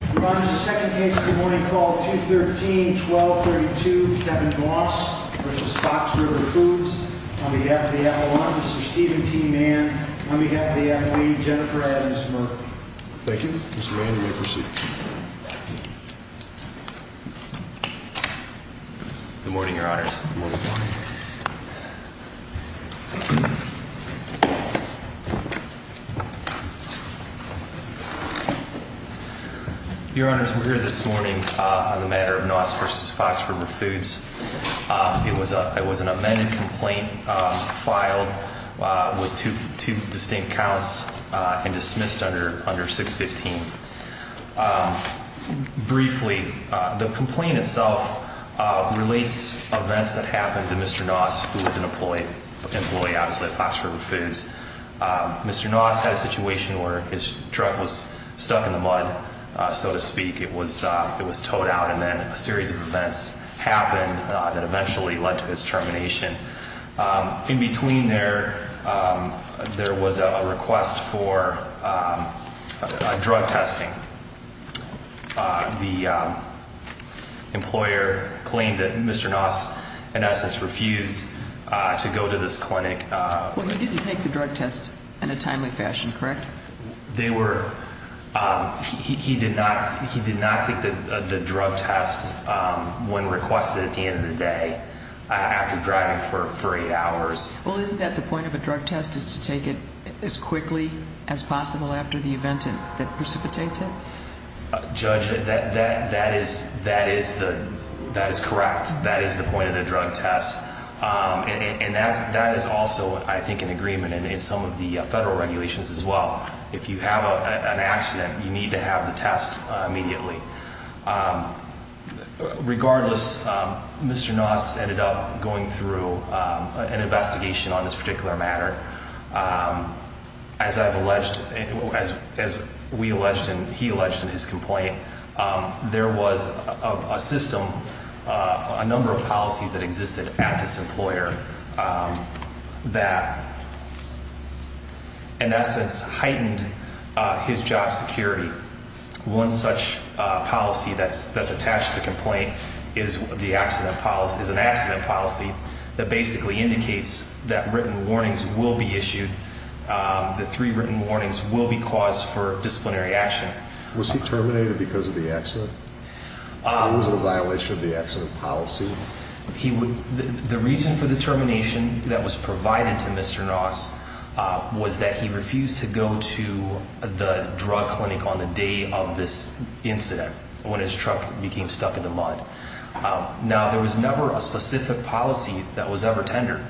Provides the second case of the morning called 213-1232, Kevin Gloss v. Fox River Foods On behalf of the Avalon, Mr. Steven T. Mann On behalf of the Avalene, Jennifer Adams-Murphy Thank you. Mr. Mann, you may proceed. Good morning, Your Honor. Your Honor, we're here this morning on the matter of Noss v. Fox River Foods. It was an amended complaint filed with two distinct counts and dismissed under 615. Briefly, the complaint itself relates events that happened to Mr. Noss, who was an employee at Fox River Foods. Mr. Noss had a situation where his truck was stuck in the mud, so to speak. It was towed out, and then a series of events happened that eventually led to his termination. In between there, there was a request for drug testing. The employer claimed that Mr. Noss, in essence, refused to go to this clinic. Well, he didn't take the drug test in a timely fashion, correct? He did not take the drug test when requested at the end of the day after driving for eight hours. Well, isn't that the point of a drug test is to take it as quickly as possible after the event that precipitates it? Judge, that is correct. That is the point of the drug test. And that is also, I think, in agreement in some of the federal regulations as well. If you have an accident, you need to have the test immediately. Regardless, Mr. Noss ended up going through an investigation on this particular matter. As we alleged and he alleged in his complaint, there was a system, a number of policies that existed at this employer that, in essence, heightened his job security. One such policy that's attached to the complaint is an accident policy that basically indicates that written warnings will be issued. The three written warnings will be caused for disciplinary action. Was he terminated because of the accident? Or was it a violation of the accident policy? The reason for the termination that was provided to Mr. Noss was that he refused to go to the drug clinic on the day of this incident when his truck became stuck in the mud. Now, there was never a specific policy that was ever tendered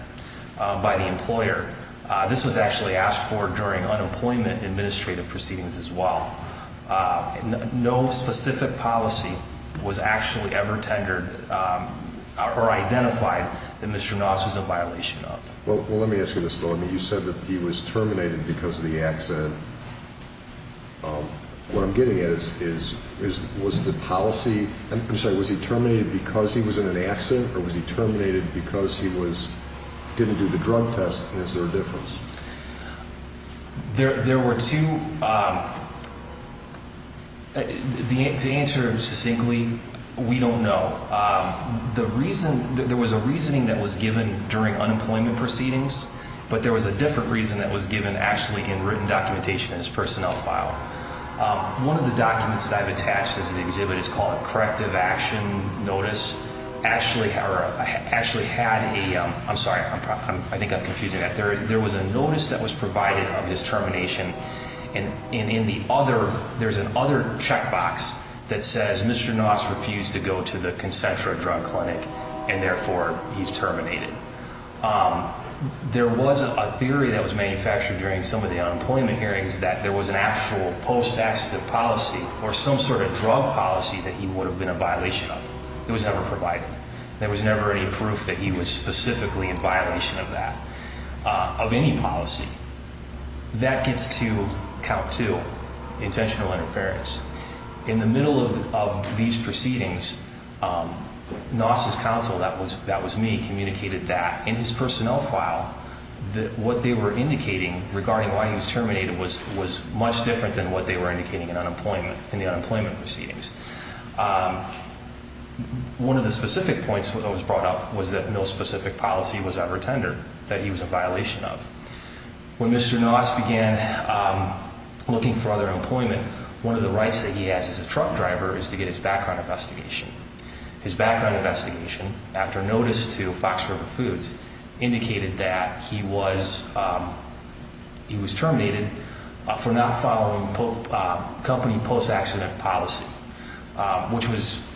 by the employer. This was actually asked for during unemployment administrative proceedings as well. No specific policy was actually ever tendered or identified that Mr. Noss was a violation of. Well, let me ask you this, though. I mean, you said that he was terminated because of the accident. What I'm getting at is, was the policy, I'm sorry, was he terminated because he was in an accident or was he terminated because he didn't do the drug test and is there a difference? There were two, to answer succinctly, we don't know. The reason, there was a reasoning that was given during unemployment proceedings, but there was a different reason that was given actually in written documentation in his personnel file. One of the documents that I've attached as an exhibit is called corrective action notice. Actually had a, I'm sorry, I think I'm confusing that. There was a notice that was provided of his termination. And in the other, there's an other checkbox that says Mr. Noss refused to go to the concentric drug clinic and therefore he's terminated. There was a theory that was manufactured during some of the unemployment hearings that there was an actual post-accessive policy or some sort of drug policy that he would have been a violation of. It was never provided. There was never any proof that he was specifically in violation of that, of any policy. That gets to count two, intentional interference. In the middle of these proceedings, Noss' counsel, that was me, communicated that in his personnel file that what they were indicating regarding why he was terminated was much different than what they were indicating in unemployment, in the unemployment proceedings. One of the specific points that was brought up was that no specific policy was ever tendered that he was a violation of. When Mr. Noss began looking for other employment, one of the rights that he has as a truck driver is to get his background investigation. His background investigation, after notice to Fox River Foods, indicated that he was terminated for not following company post-accident policy. Which was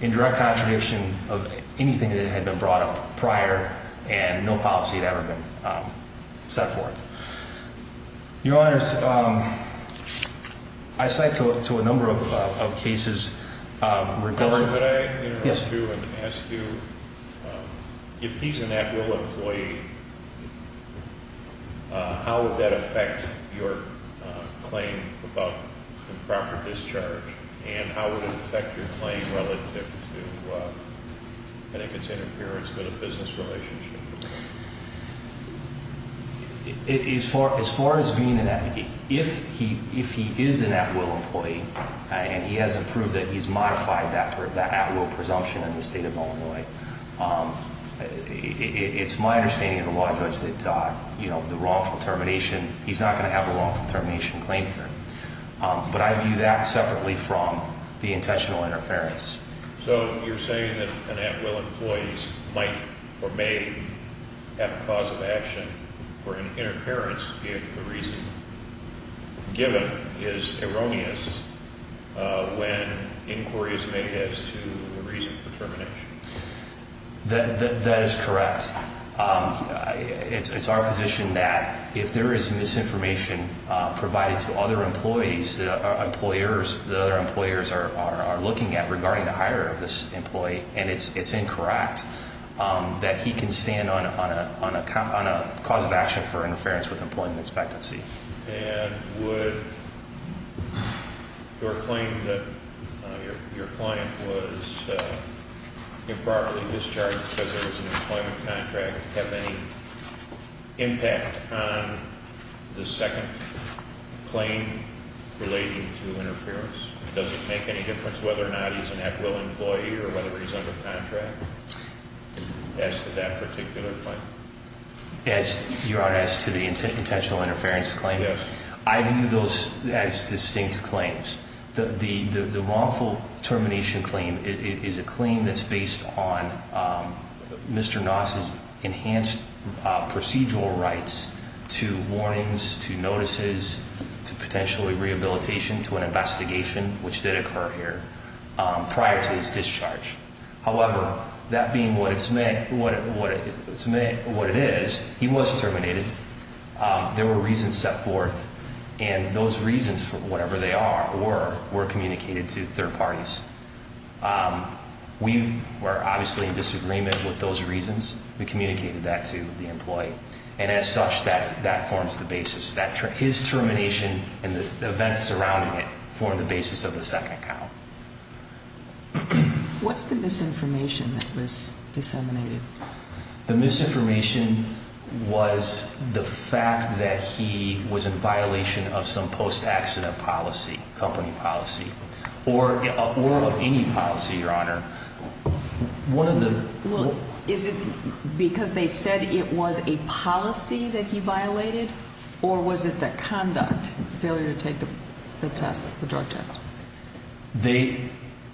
in direct contradiction of anything that had been brought up prior and no policy had ever been set forth. Your Honors, I cite to a number of cases regarding... And how would it affect your claim relative to, I think it's interference with a business relationship. As far as being an, if he is an at-will employee, and he hasn't proved that he's modified that at-will presumption in the state of Illinois. It's my understanding of the law judge that the wrongful termination, he's not going to have a wrongful termination claim here. But I view that separately from the intentional interference. So you're saying that an at-will employee might or may have a cause of action for an interference if the reason given is erroneous when inquiry is made as to the reason for termination? That is correct. It's our position that if there is misinformation provided to other employees, that other employers are looking at regarding the hire of this employee, and it's incorrect. That he can stand on a cause of action for interference with employment expectancy. And would your claim that your client was improperly discharged because there was an employment contract have any impact on the second claim relating to interference? Does it make any difference whether or not he's an at-will employee or whether he's under contract as to that particular claim? As to the intentional interference claim? Yes. I view those as distinct claims. The wrongful termination claim is a claim that's based on Mr. Knox's enhanced procedural rights to warnings, to notices, to potentially rehabilitation, to an investigation, which did occur here prior to his discharge. However, that being what it is, he was terminated. There were reasons set forth. And those reasons, whatever they are, were communicated to third parties. We were obviously in disagreement with those reasons. We communicated that to the employee. And as such, that forms the basis. His termination and the events surrounding it form the basis of the second account. What's the misinformation that was disseminated? The misinformation was the fact that he was in violation of some post-accident policy, company policy, or of any policy, Your Honor. Well, is it because they said it was a policy that he violated, or was it the conduct, failure to take the test, the drug test? They,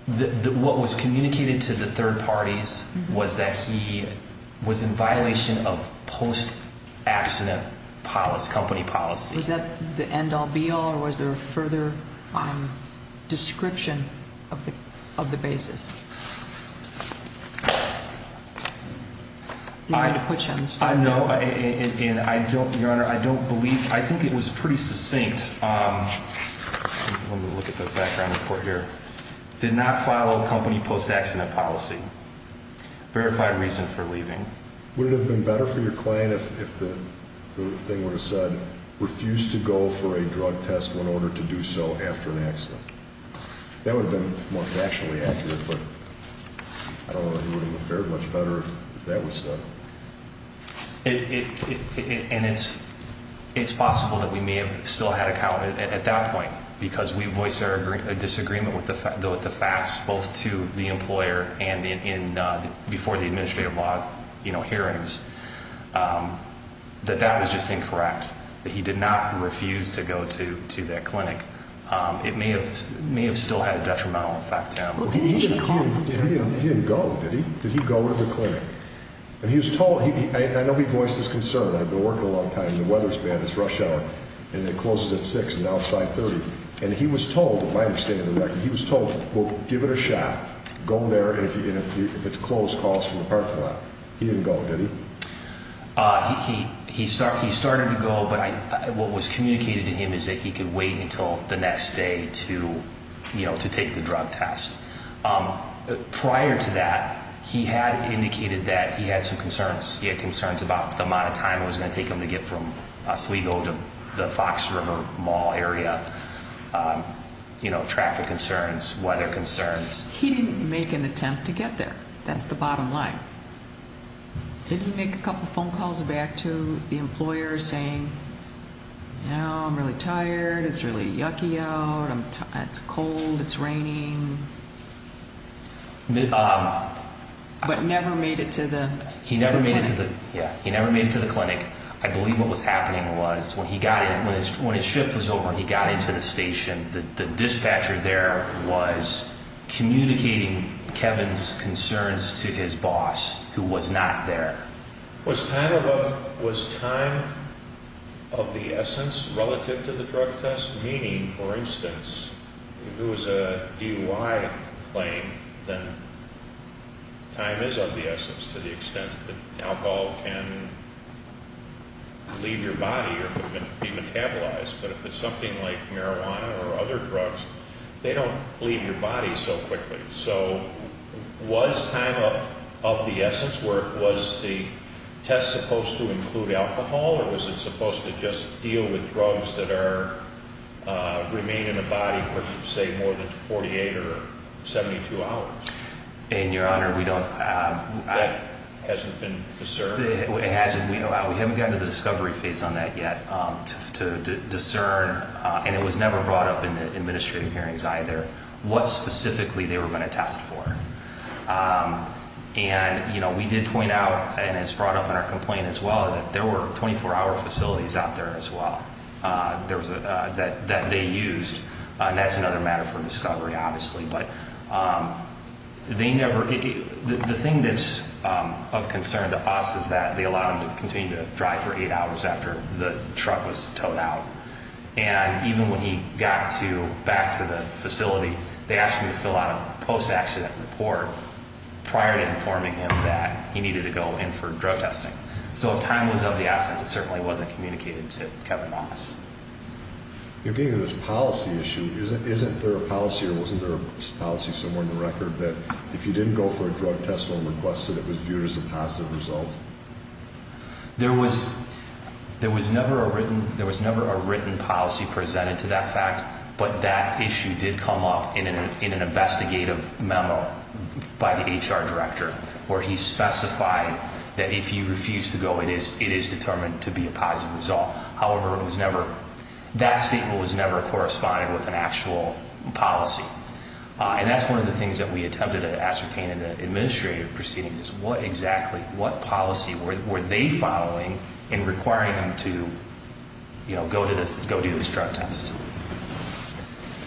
what was communicated to the third parties was that he was in violation of post-accident policy, company policy. Was that the end all, be all, or was there a further description of the basis? I know, and I don't, Your Honor, I don't believe, I think it was pretty succinct. Let me look at the background report here. Did not follow company post-accident policy. Verified reason for leaving. Would it have been better for your client if the thing would have said, refused to go for a drug test when ordered to do so after an accident? That would have been more factually accurate, but I don't know if it would have fared much better if that was said. And it's possible that we may have still had a count at that point, because we voiced a disagreement with the facts, both to the employer and in, before the administrative law hearings, that that was just incorrect. He did not refuse to go to that clinic. It may have still had a detrimental effect to him. He didn't go, did he? Did he go to the clinic? And he was told, I know he voiced his concern. I've been working a long time, and the weather's bad, it's rush hour, and it closes at 6, and now it's 5.30. And he was told, if I understand it correctly, he was told, well, give it a shot, go there, and if it's closed, call us from the parking lot. He didn't go, did he? He started to go, but what was communicated to him is that he could wait until the next day to, you know, to take the drug test. Prior to that, he had indicated that he had some concerns. He had concerns about the amount of time it was going to take him to get from Oswego to the Fox River Mall area, you know, traffic concerns, weather concerns. He didn't make an attempt to get there. That's the bottom line. Did he make a couple phone calls back to the employer saying, you know, I'm really tired, it's really yucky out, it's cold, it's raining? But never made it to the clinic? He never made it to the, yeah, he never made it to the clinic. I believe what was happening was when he got in, when his shift was over and he got into the station, the dispatcher there was communicating Kevin's concerns to his boss, who was not there. Was time of the essence relative to the drug test? Time of the essence meaning, for instance, if it was a DUI claim, then time is of the essence to the extent that alcohol can leave your body or be metabolized. But if it's something like marijuana or other drugs, they don't leave your body so quickly. So was time of the essence, was the test supposed to include alcohol? Or was it supposed to just deal with drugs that remain in the body for, say, more than 48 or 72 hours? And, Your Honor, we don't- That hasn't been discerned? It hasn't. We haven't gotten to the discovery phase on that yet. To discern, and it was never brought up in the administrative hearings either, what specifically they were going to test for. And we did point out, and it's brought up in our complaint as well, that there were 24-hour facilities out there as well that they used. And that's another matter for discovery, obviously. But the thing that's of concern to us is that they allowed him to continue to drive for eight hours after the truck was towed out. And even when he got back to the facility, they asked him to fill out a post-accident report prior to informing him that he needed to go in for drug testing. So if time was of the essence, it certainly wasn't communicated to Kevin Moss. You're getting to this policy issue. Isn't there a policy or wasn't there a policy somewhere in the record that if you didn't go for a drug test or a request that it was viewed as a positive result? There was never a written policy presented to that fact, but that issue did come up in an investigative memo by the HR director, where he specified that if you refuse to go, it is determined to be a positive result. However, that statement was never corresponded with an actual policy. And that's one of the things that we attempted to ascertain in the administrative proceedings, is what exactly, what policy were they following in requiring him to go do this drug test?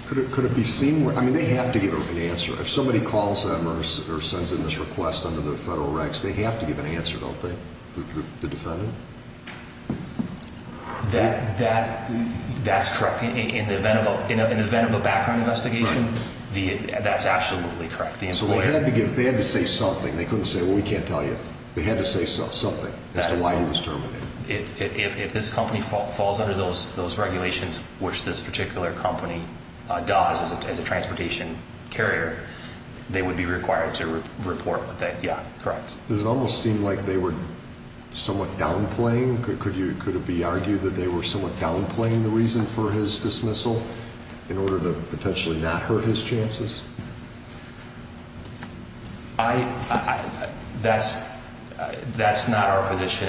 Could it be seen? I mean, they have to give an answer. If somebody calls them or sends in this request under the federal regs, they have to give an answer, don't they, the defendant? That's correct. In the event of a background investigation, that's absolutely correct. So they had to say something. They couldn't say, well, we can't tell you. They had to say something as to why he was terminated. If this company falls under those regulations, which this particular company does as a transportation carrier, they would be required to report that. Yeah, correct. Does it almost seem like they were somewhat downplaying? Could it be argued that they were somewhat downplaying the reason for his dismissal in order to potentially not hurt his chances? That's not our position.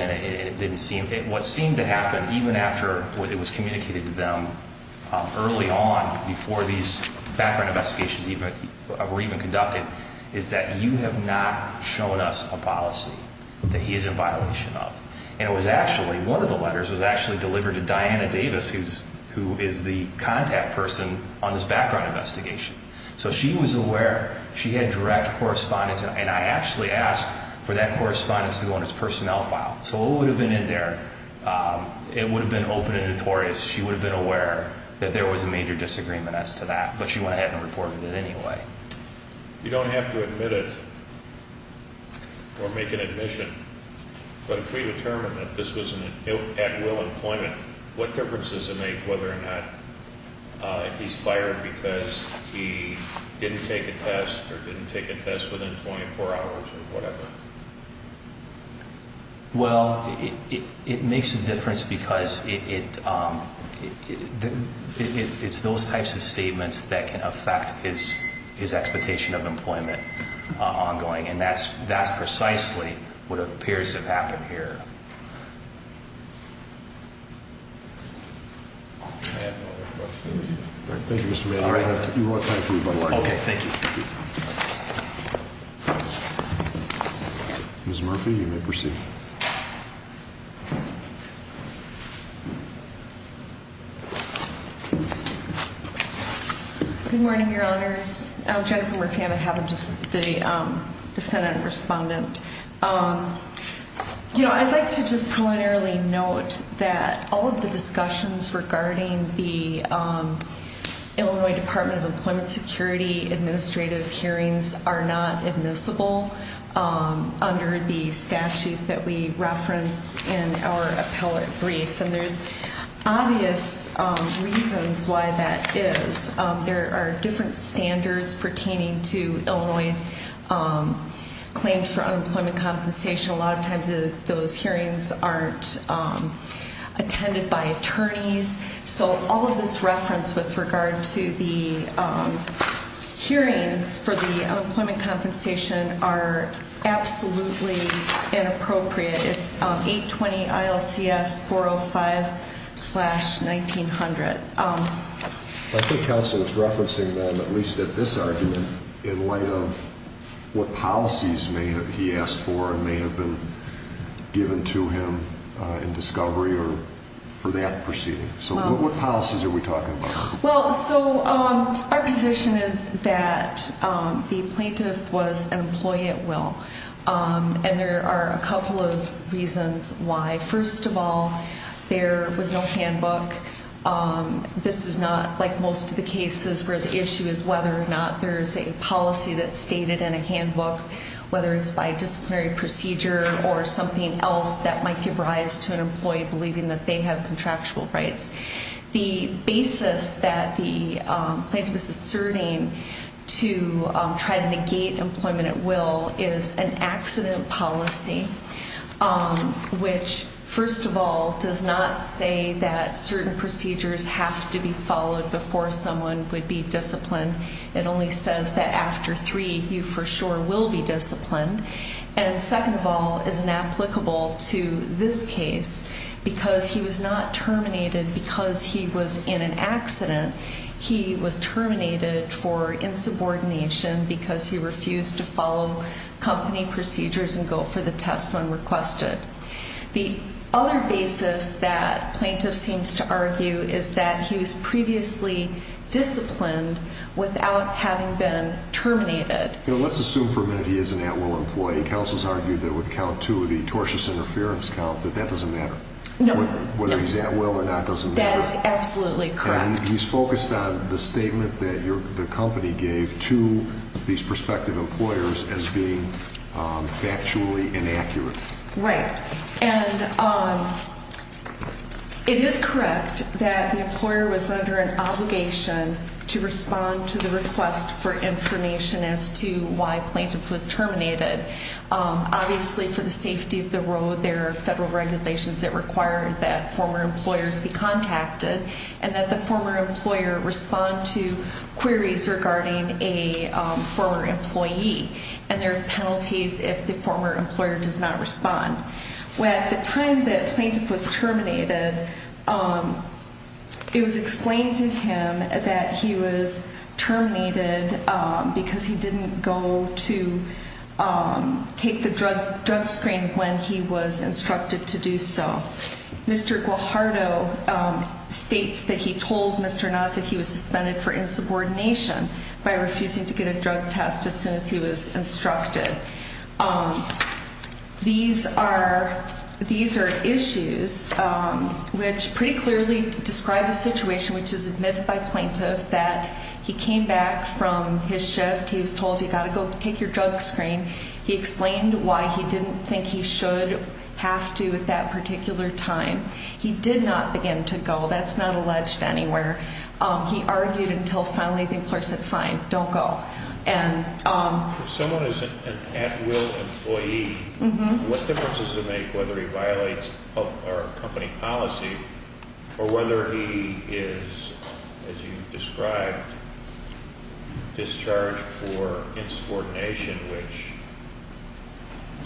What seemed to happen, even after it was communicated to them early on, before these background investigations were even conducted, is that you have not shown us a policy that he is in violation of. And it was actually, one of the letters was actually delivered to Diana Davis, who is the contact person on this background investigation. So she was aware. She had direct correspondence. And I actually asked for that correspondence to go in his personnel file. So what would have been in there, it would have been open and notorious. She would have been aware that there was a major disagreement as to that. But she went ahead and reported it anyway. You don't have to admit it or make an admission. But if we determine that this was an at-will employment, what difference does it make whether or not he's fired because he didn't take a test or didn't take a test within 24 hours or whatever? Well, it makes a difference because it's those types of statements that can affect his expectation of employment ongoing. And that's precisely what appears to have happened here. Thank you, Mr. Mayor. You have time for me by the way. Okay, thank you. Ms. Murphy, you may proceed. Good morning, Your Honors. Jennifer Murphy, I have a defendant respondent. You know, I'd like to just preliminarily note that all of the discussions regarding the Illinois Department of Employment Security administrative hearings are not admissible under the statute that we reference in our appellate brief. And there's obvious reasons why that is. There are different standards pertaining to Illinois claims for unemployment compensation. A lot of times those hearings aren't attended by attorneys. So all of this reference with regard to the hearings for the unemployment compensation are absolutely inappropriate. It's 820-ILCS-405-1900. I think counsel was referencing them, at least at this argument, in light of what policies he asked for and may have been given to him in discovery or for that proceeding. So what policies are we talking about here? Well, so our position is that the plaintiff was an employee at will. And there are a couple of reasons why. First of all, there was no handbook. This is not like most of the cases where the issue is whether or not there's a policy that's stated in a handbook, whether it's by disciplinary procedure or something else that might give rise to an employee believing that they have contractual rights. The basis that the plaintiff is asserting to try to negate employment at will is an accident policy, which, first of all, does not say that certain procedures have to be followed before someone would be disciplined. It only says that after three, you for sure will be disciplined. And second of all, is inapplicable to this case because he was not terminated because he was in an accident. He was terminated for insubordination because he refused to follow company procedures and go for the test when requested. The other basis that plaintiff seems to argue is that he was previously disciplined without having been terminated. Let's assume for a minute he is an at-will employee. Counsel has argued that with count two, the tortious interference count, that that doesn't matter. No. Whether he's at will or not doesn't matter. That is absolutely correct. And he's focused on the statement that the company gave to these prospective employers as being factually inaccurate. Right. And it is correct that the employer was under an obligation to respond to the request for information as to why plaintiff was terminated. Obviously, for the safety of the road, there are federal regulations that require that former employers be contacted and that the former employer respond to queries regarding a former employee. And there are penalties if the former employer does not respond. At the time that plaintiff was terminated, it was explained to him that he was terminated because he didn't go to take the drug screen when he was instructed to do so. Mr. Guajardo states that he told Mr. Nasr that he was suspended for insubordination by refusing to get a drug test as soon as he was instructed. These are issues which pretty clearly describe the situation which is admitted by plaintiff that he came back from his shift. He was told, you've got to go take your drug screen. He explained why he didn't think he should have to at that particular time. He did not begin to go. That's not alleged anywhere. He argued until finally the employer said, fine, don't go. If someone is an at-will employee, what difference does it make whether he violates company policy or whether he is, as you described, discharged for insubordination, which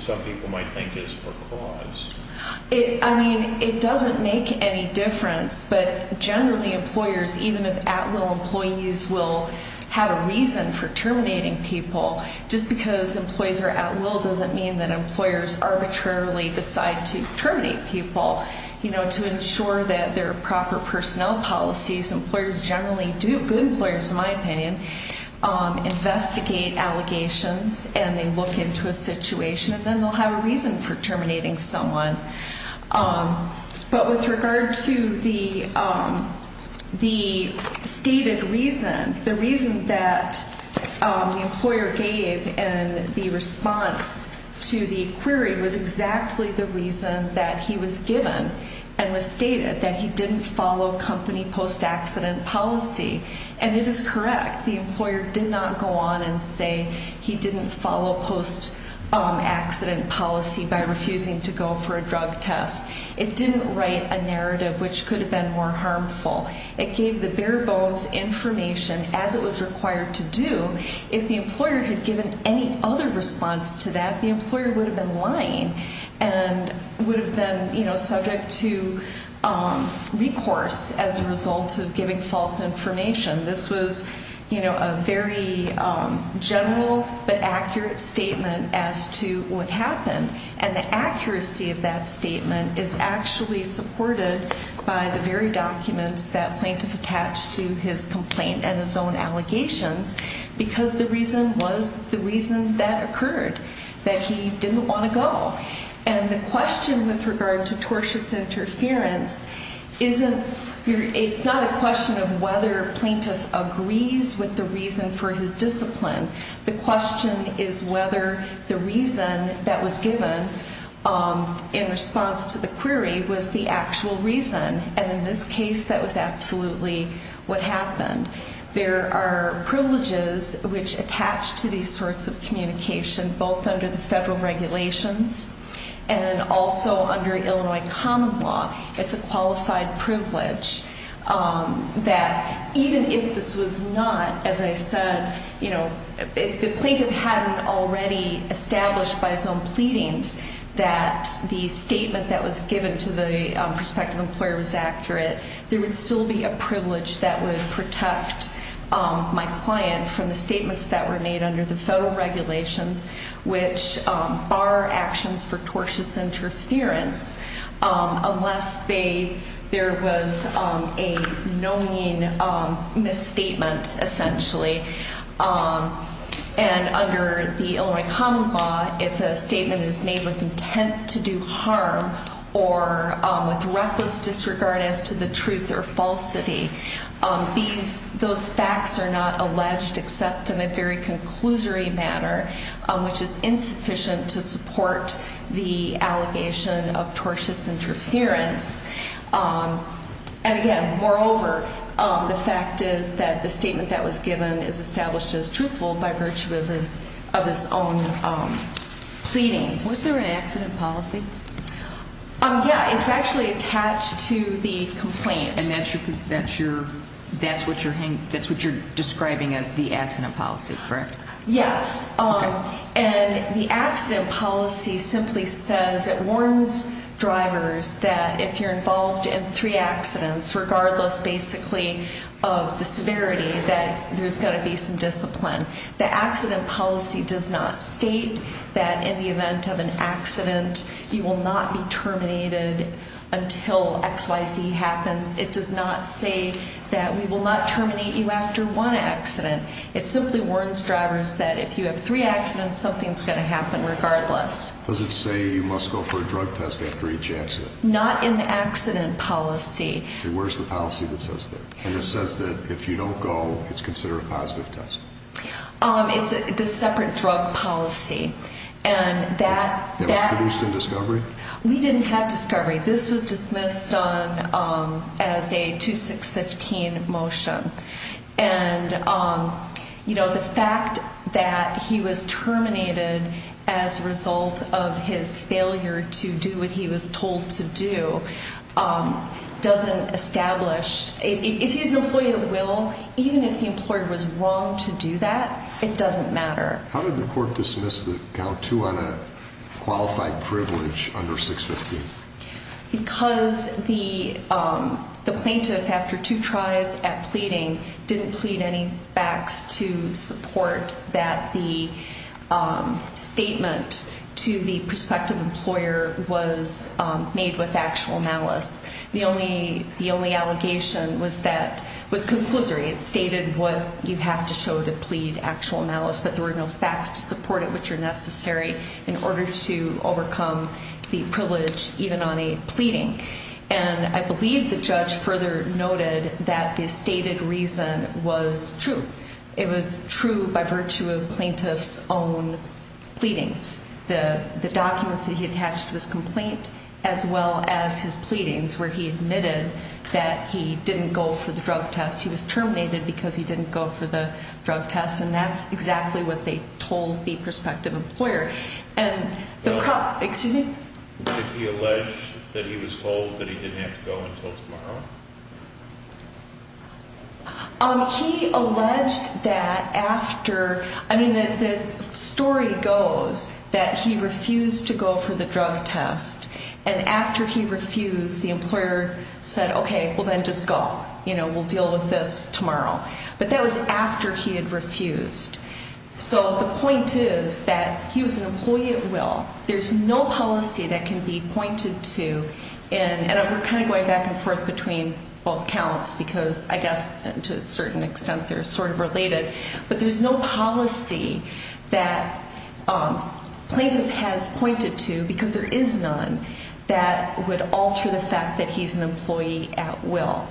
some people might think is for cause? It doesn't make any difference, but generally employers, even if at-will employees will have a reason for terminating people, just because employees are at-will doesn't mean that employers arbitrarily decide to terminate people. To ensure that there are proper personnel policies, employers generally do, good employers in my opinion, investigate allegations and they look into a situation and then they'll have a reason for terminating someone. But with regard to the stated reason, the reason that the employer gave in the response to the query was exactly the reason that he was given and was stated, that he didn't follow company post-accident policy. And it is correct, the employer did not go on and say he didn't follow post-accident policy by refusing to go for a drug test. It didn't write a narrative which could have been more harmful. It gave the bare bones information as it was required to do. If the employer had given any other response to that, the employer would have been lying and would have been subject to recourse as a result of giving false information. This was a very general but accurate statement as to what happened. And the accuracy of that statement is actually supported by the very documents that plaintiff attached to his complaint and his own allegations because the reason was the reason that occurred, that he didn't want to go. And the question with regard to tortious interference isn't, it's not a question of whether plaintiff agrees with the reason for his discipline. The question is whether the reason that was given in response to the query was the actual reason. And in this case, that was absolutely what happened. There are privileges which attach to these sorts of communication both under the federal regulations and also under Illinois common law. It's a qualified privilege that even if this was not, as I said, you know, if the plaintiff hadn't already established by his own pleadings that the statement that was given to the prospective employer was accurate, there would still be a privilege that would protect my client from the statements that were made under the federal regulations which bar actions for tortious interference unless there was a knowing misstatement essentially. And under the Illinois common law, if a statement is made with intent to do harm or with reckless disregard as to the truth or falsity, those facts are not alleged except in a very conclusory manner which is insufficient to support the allegation of tortious interference. And again, moreover, the fact is that the statement that was given is established as truthful by virtue of his own pleadings. Was there an accident policy? Yeah, it's actually attached to the complaint. And that's what you're describing as the accident policy, correct? Yes. And the accident policy simply says it warns drivers that if you're involved in three accidents, regardless basically of the severity, that there's going to be some discipline. The accident policy does not state that in the event of an accident you will not be terminated until XYZ happens. It does not say that we will not terminate you after one accident. It simply warns drivers that if you have three accidents, something's going to happen regardless. Does it say you must go for a drug test after each accident? Not in the accident policy. Okay, where's the policy that says that? And it says that if you don't go, it's considered a positive test. It's the separate drug policy. And that... It was produced in discovery? We didn't have discovery. This was dismissed as a 2615 motion. And, you know, the fact that he was terminated as a result of his failure to do what he was told to do doesn't establish... If he's an employee of the will, even if the employer was wrong to do that, it doesn't matter. How did the court dismiss the COW 2 on a qualified privilege under 615? Because the plaintiff, after two tries at pleading, didn't plead any facts to support that the statement to the prospective employer was made with actual malice. The only allegation was that it was conclusory. It stated what you have to show to plead actual malice, but there were no facts to support it which are necessary in order to overcome the privilege even on a pleading. And I believe the judge further noted that the stated reason was true. It was true by virtue of plaintiff's own pleadings. The documents that he attached to his complaint as well as his pleadings where he admitted that he didn't go for the drug test. He was terminated because he didn't go for the drug test, and that's exactly what they told the prospective employer. And the... Excuse me? Did he allege that he was told that he didn't have to go until tomorrow? He alleged that after... I mean, the story goes that he refused to go for the drug test. And after he refused, the employer said, okay, well, then just go. You know, we'll deal with this tomorrow. But that was after he had refused. There's no policy that can be pointed to in... And we're kind of going back and forth between both counts because I guess to a certain extent they're sort of related. But there's no policy that plaintiff has pointed to, because there is none, that would alter the fact that he's an employee at will.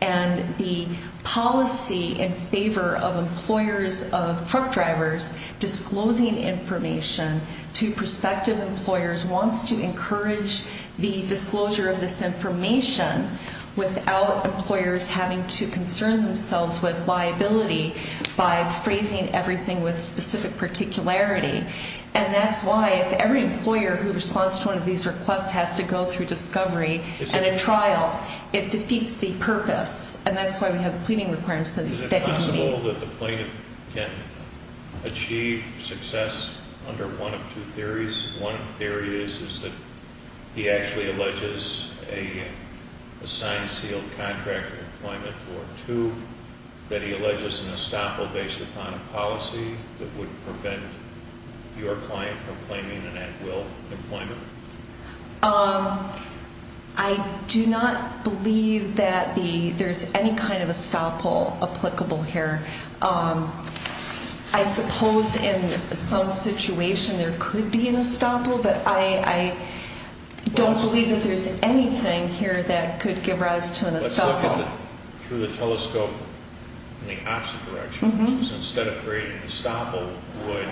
And the policy in favor of employers of truck drivers disclosing information to prospective employers wants to encourage the disclosure of this information without employers having to concern themselves with liability by phrasing everything with specific particularity. And that's why if every employer who responds to one of these requests has to go through discovery and a trial, it defeats the purpose. And that's why we have the pleading requirements that he can meet. Is it possible that the plaintiff can achieve success under one of two theories? One theory is that he actually alleges a signed sealed contract employment. Or two, that he alleges an estoppel based upon a policy that would prevent your client from claiming an at will employment. I do not believe that there's any kind of estoppel applicable here. I suppose in some situation there could be an estoppel, but I don't believe that there's anything here that could give rise to an estoppel. Let's look at it through the telescope in the opposite direction, which is instead of creating an estoppel, would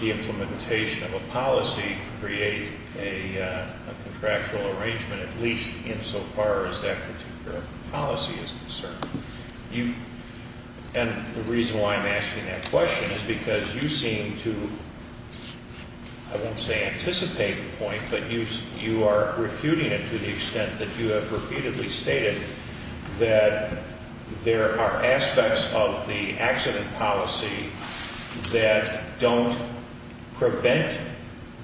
the implementation of a policy create a contractual arrangement, at least insofar as that particular policy is concerned? And the reason why I'm asking that question is because you seem to, I won't say anticipate the point, but you are refuting it to the extent that you have repeatedly stated that there are aspects of the accident policy that don't prevent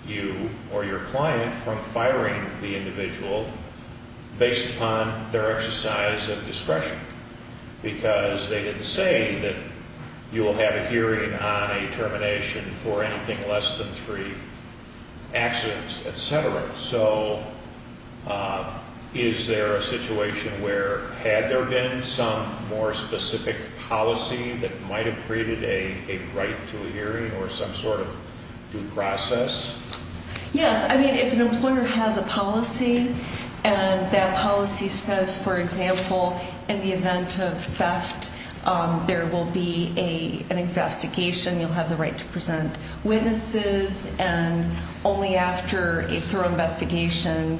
you or your client from firing the individual based upon their exercise of discretion. Because they didn't say that you will have a hearing on a termination for anything less than three accidents, etc. So is there a situation where had there been some more specific policy that might have created a right to a hearing or some sort of due process? Yes. I mean, if an employer has a policy and that policy says, for example, in the event of theft, there will be an investigation, you'll have the right to present witnesses, and only after a thorough investigation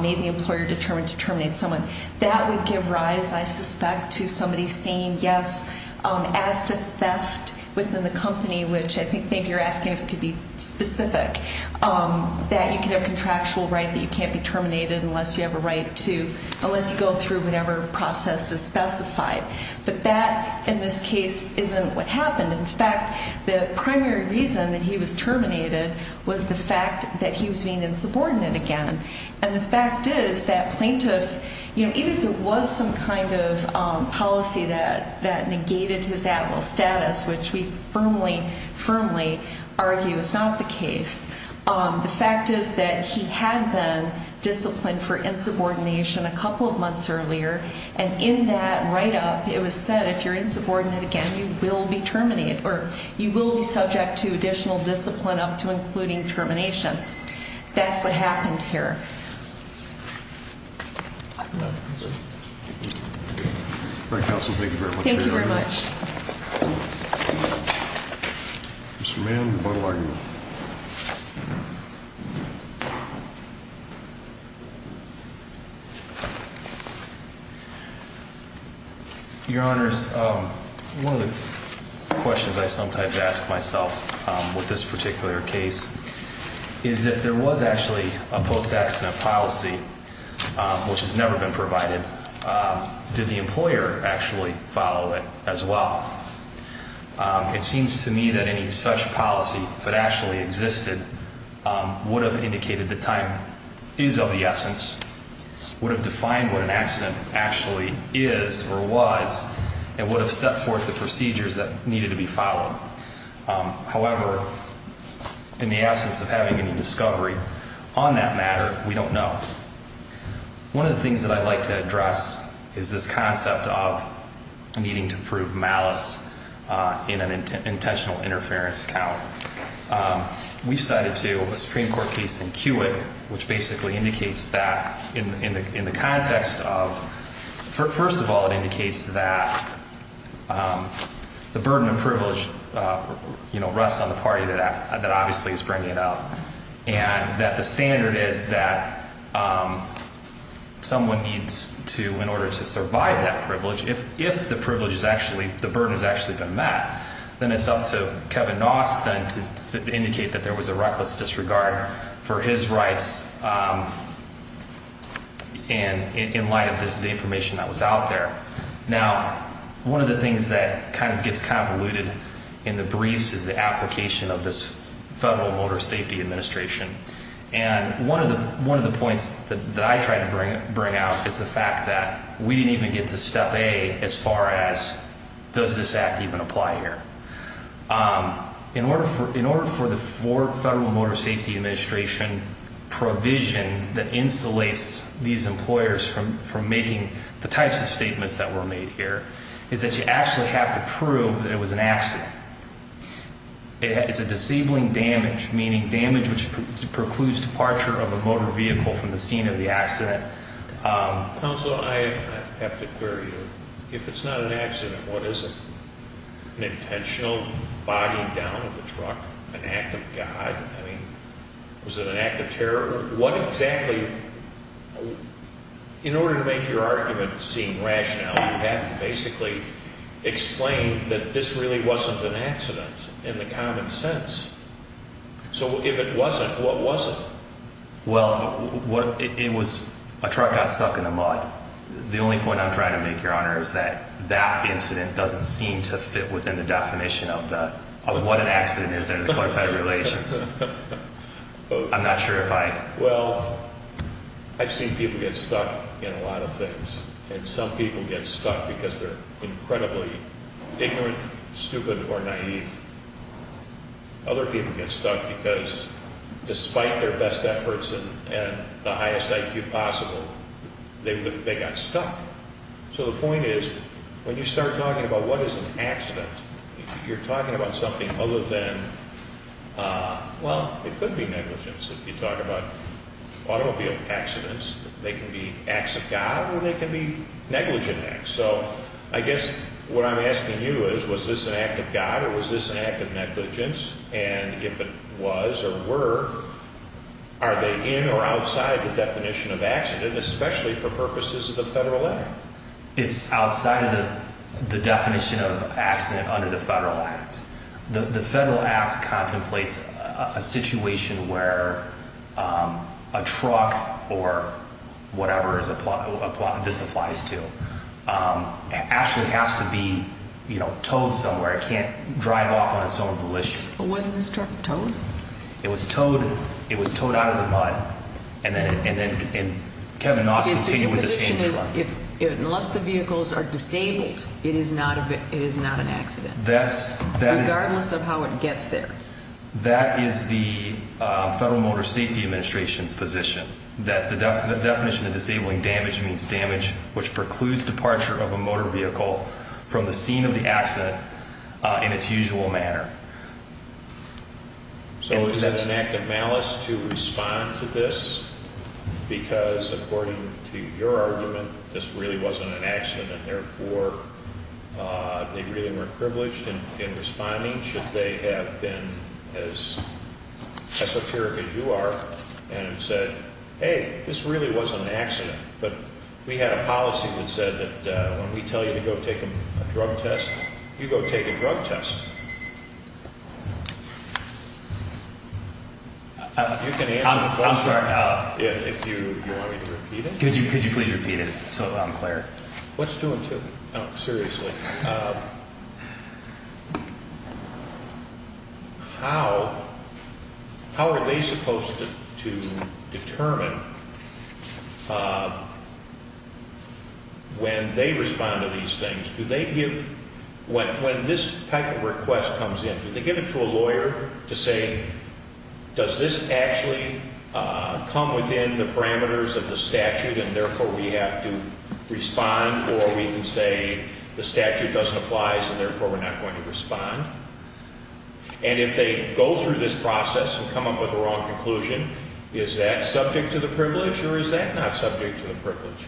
may the employer determine to terminate someone. That would give rise, I suspect, to somebody saying yes as to theft within the company, which I think you're asking if it could be specific, that you could have contractual right that you can't be terminated unless you have a right to, unless you go through whatever process is specified. But that, in this case, isn't what happened. In fact, the primary reason that he was terminated was the fact that he was being insubordinate again. And the fact is that plaintiff, you know, even if there was some kind of policy that negated his admiral status, which we firmly, firmly argue is not the case, the fact is that he had been disciplined for insubordination a couple of months earlier, and in that write-up, it was said if you're insubordinate again, you will be terminated, or you will be subject to additional discipline up to including termination. That's what happened here. Thank you very much. Mr. Mann, what will you argue? Your Honor, one of the questions I sometimes ask myself with this particular case is if there was actually a post-accident policy, which has never been provided, did the employer actually follow it as well? It seems to me that any such policy, if it actually existed, would have indicated the time is of the essence, would have defined what an accident actually is or was, and would have set forth the procedures that needed to be followed. However, in the absence of having any discovery on that matter, we don't know. One of the things that I'd like to address is this concept of needing to prove malice in an intentional interference count. We've cited, too, a Supreme Court case in Kiewit, which basically indicates that in the context of, first of all, it indicates that the burden of privilege rests on the party that obviously is bringing it up, and that the standard is that someone needs to, in order to survive that privilege, if the privilege is actually, the burden has actually been met, then it's up to Kevin Nost to indicate that there was a reckless disregard for his rights in light of the information that was out there. Now, one of the things that kind of gets convoluted in the briefs is the application of this Federal Motor Safety Administration. And one of the points that I try to bring out is the fact that we didn't even get to step A as far as does this act even apply here. In order for the Federal Motor Safety Administration provision that insulates these employers from making the types of statements that were made here is that you actually have to prove that it was an accident. It's a disabling damage, meaning damage which precludes departure of a motor vehicle from the scene of the accident. Counsel, I have to query you. If it's not an accident, what is it? An intentional bogging down of the truck? An act of God? I mean, was it an act of terror? In order to make your argument seem rational, you have to basically explain that this really wasn't an accident in the common sense. So if it wasn't, what was it? Well, it was a truck got stuck in the mud. The only point I'm trying to make, Your Honor, is that that incident doesn't seem to fit within the definition of what an accident is under the Code of Federal Relations. I'm not sure if I... Well, I've seen people get stuck in a lot of things, and some people get stuck because they're incredibly ignorant, stupid, or naive. Other people get stuck because despite their best efforts and the highest IQ possible, they got stuck. So the point is, when you start talking about what is an accident, you're talking about something other than... Well, it could be negligence. If you talk about automobile accidents, they can be acts of God or they can be negligent acts. So I guess what I'm asking you is, was this an act of God or was this an act of negligence? And if it was or were, are they in or outside the definition of accident, especially for purposes of the Federal Act? It's outside the definition of accident under the Federal Act. The Federal Act contemplates a situation where a truck or whatever this applies to actually has to be towed somewhere. It can't drive off on its own volition. But wasn't this truck towed? It was towed. It was towed out of the mud. And then Kevin Noss continued with the same truck. Unless the vehicles are disabled, it is not an accident, regardless of how it gets there. That is the Federal Motor Safety Administration's position, that the definition of disabling damage means damage which precludes departure of a motor vehicle from the scene of the accident in its usual manner. So is it an act of malice to respond to this because, according to your argument, this really wasn't an accident and therefore they really weren't privileged in responding, should they have been as esoteric as you are and said, hey, this really wasn't an accident. But we had a policy that said that when we tell you to go take a drug test, you go take a drug test. You can answer the question if you want me to repeat it. Could you please repeat it so that I'm clear? What's two and two? No, seriously. How are they supposed to determine when they respond to these things? When this type of request comes in, do they give it to a lawyer to say, does this actually come within the parameters of the statute and therefore we have to respond or we can say the statute doesn't apply so therefore we're not going to respond? And if they go through this process and come up with a wrong conclusion, is that subject to the privilege or is that not subject to the privilege?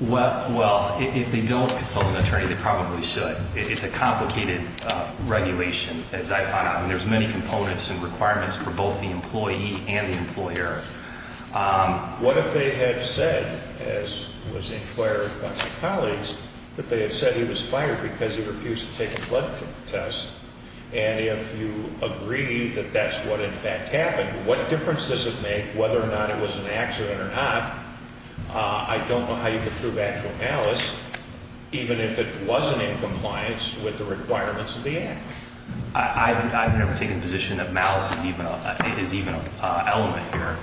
Well, if they don't consult an attorney, they probably should. It's a complicated regulation, as I found out. I mean, there's many components and requirements for both the employee and the employer. What if they had said, as was inquired by my colleagues, that they had said he was fired because he refused to take a blood test, and if you agree that that's what in fact happened, what difference does it make whether or not it was an accident or not? I don't know how you can prove actual malice even if it wasn't in compliance with the requirements of the act. I've never taken the position that malice is even an element here.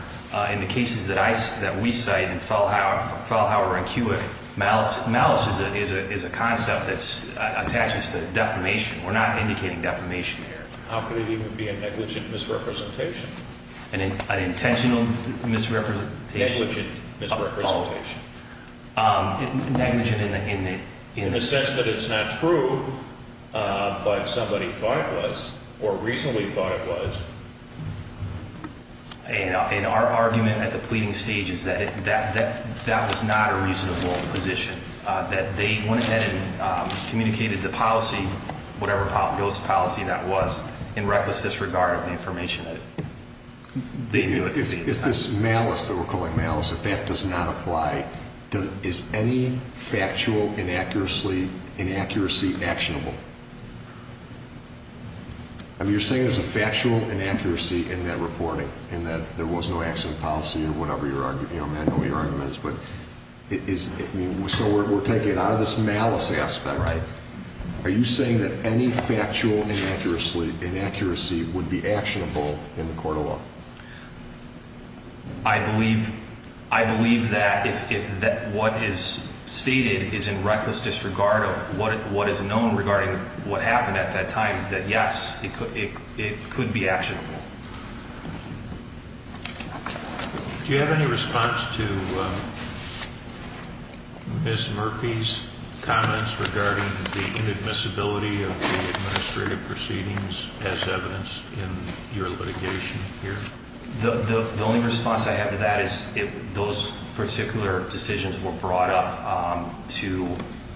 In the cases that we cite in Fallhauer and Kiewit, malice is a concept that attaches to defamation. We're not indicating defamation here. How could it even be a negligent misrepresentation? An intentional misrepresentation? Negligent misrepresentation. Negligent in the sense that it's not true, but somebody thought it was or reasonably thought it was. And our argument at the pleading stage is that that was not a reasonable position, that they went ahead and communicated the policy, whatever ghost policy that was, in reckless disregard of the information that they knew it to be. If this malice that we're calling malice, if that does not apply, is any factual inaccuracy actionable? You're saying there's a factual inaccuracy in that reporting, in that there was no accident policy or whatever your argument is. So we're taking it out of this malice aspect. Right. Are you saying that any factual inaccuracy would be actionable in the court of law? I believe that if what is stated is in reckless disregard of what is known regarding what happened at that time, that yes, it could be actionable. Do you have any response to Ms. Murphy's comments regarding the inadmissibility of the administrative proceedings as evidence in your litigation here? The only response I have to that is if those particular decisions were brought up to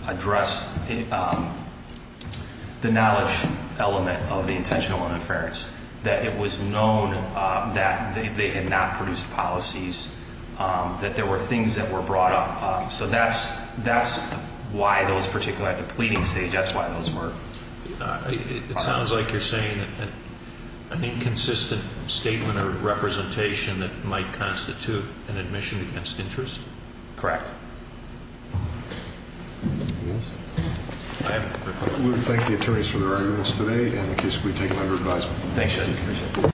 address the knowledge element of the intentional interference, that it was known that they had not produced policies, that there were things that were brought up. So that's why those particular, at the pleading stage, that's why those were brought up. It sounds like you're saying that an inconsistent statement or representation that might constitute an admission against interest? Correct. We thank the attorneys for their arguments today, and the case will be taken under advisement. Thank you.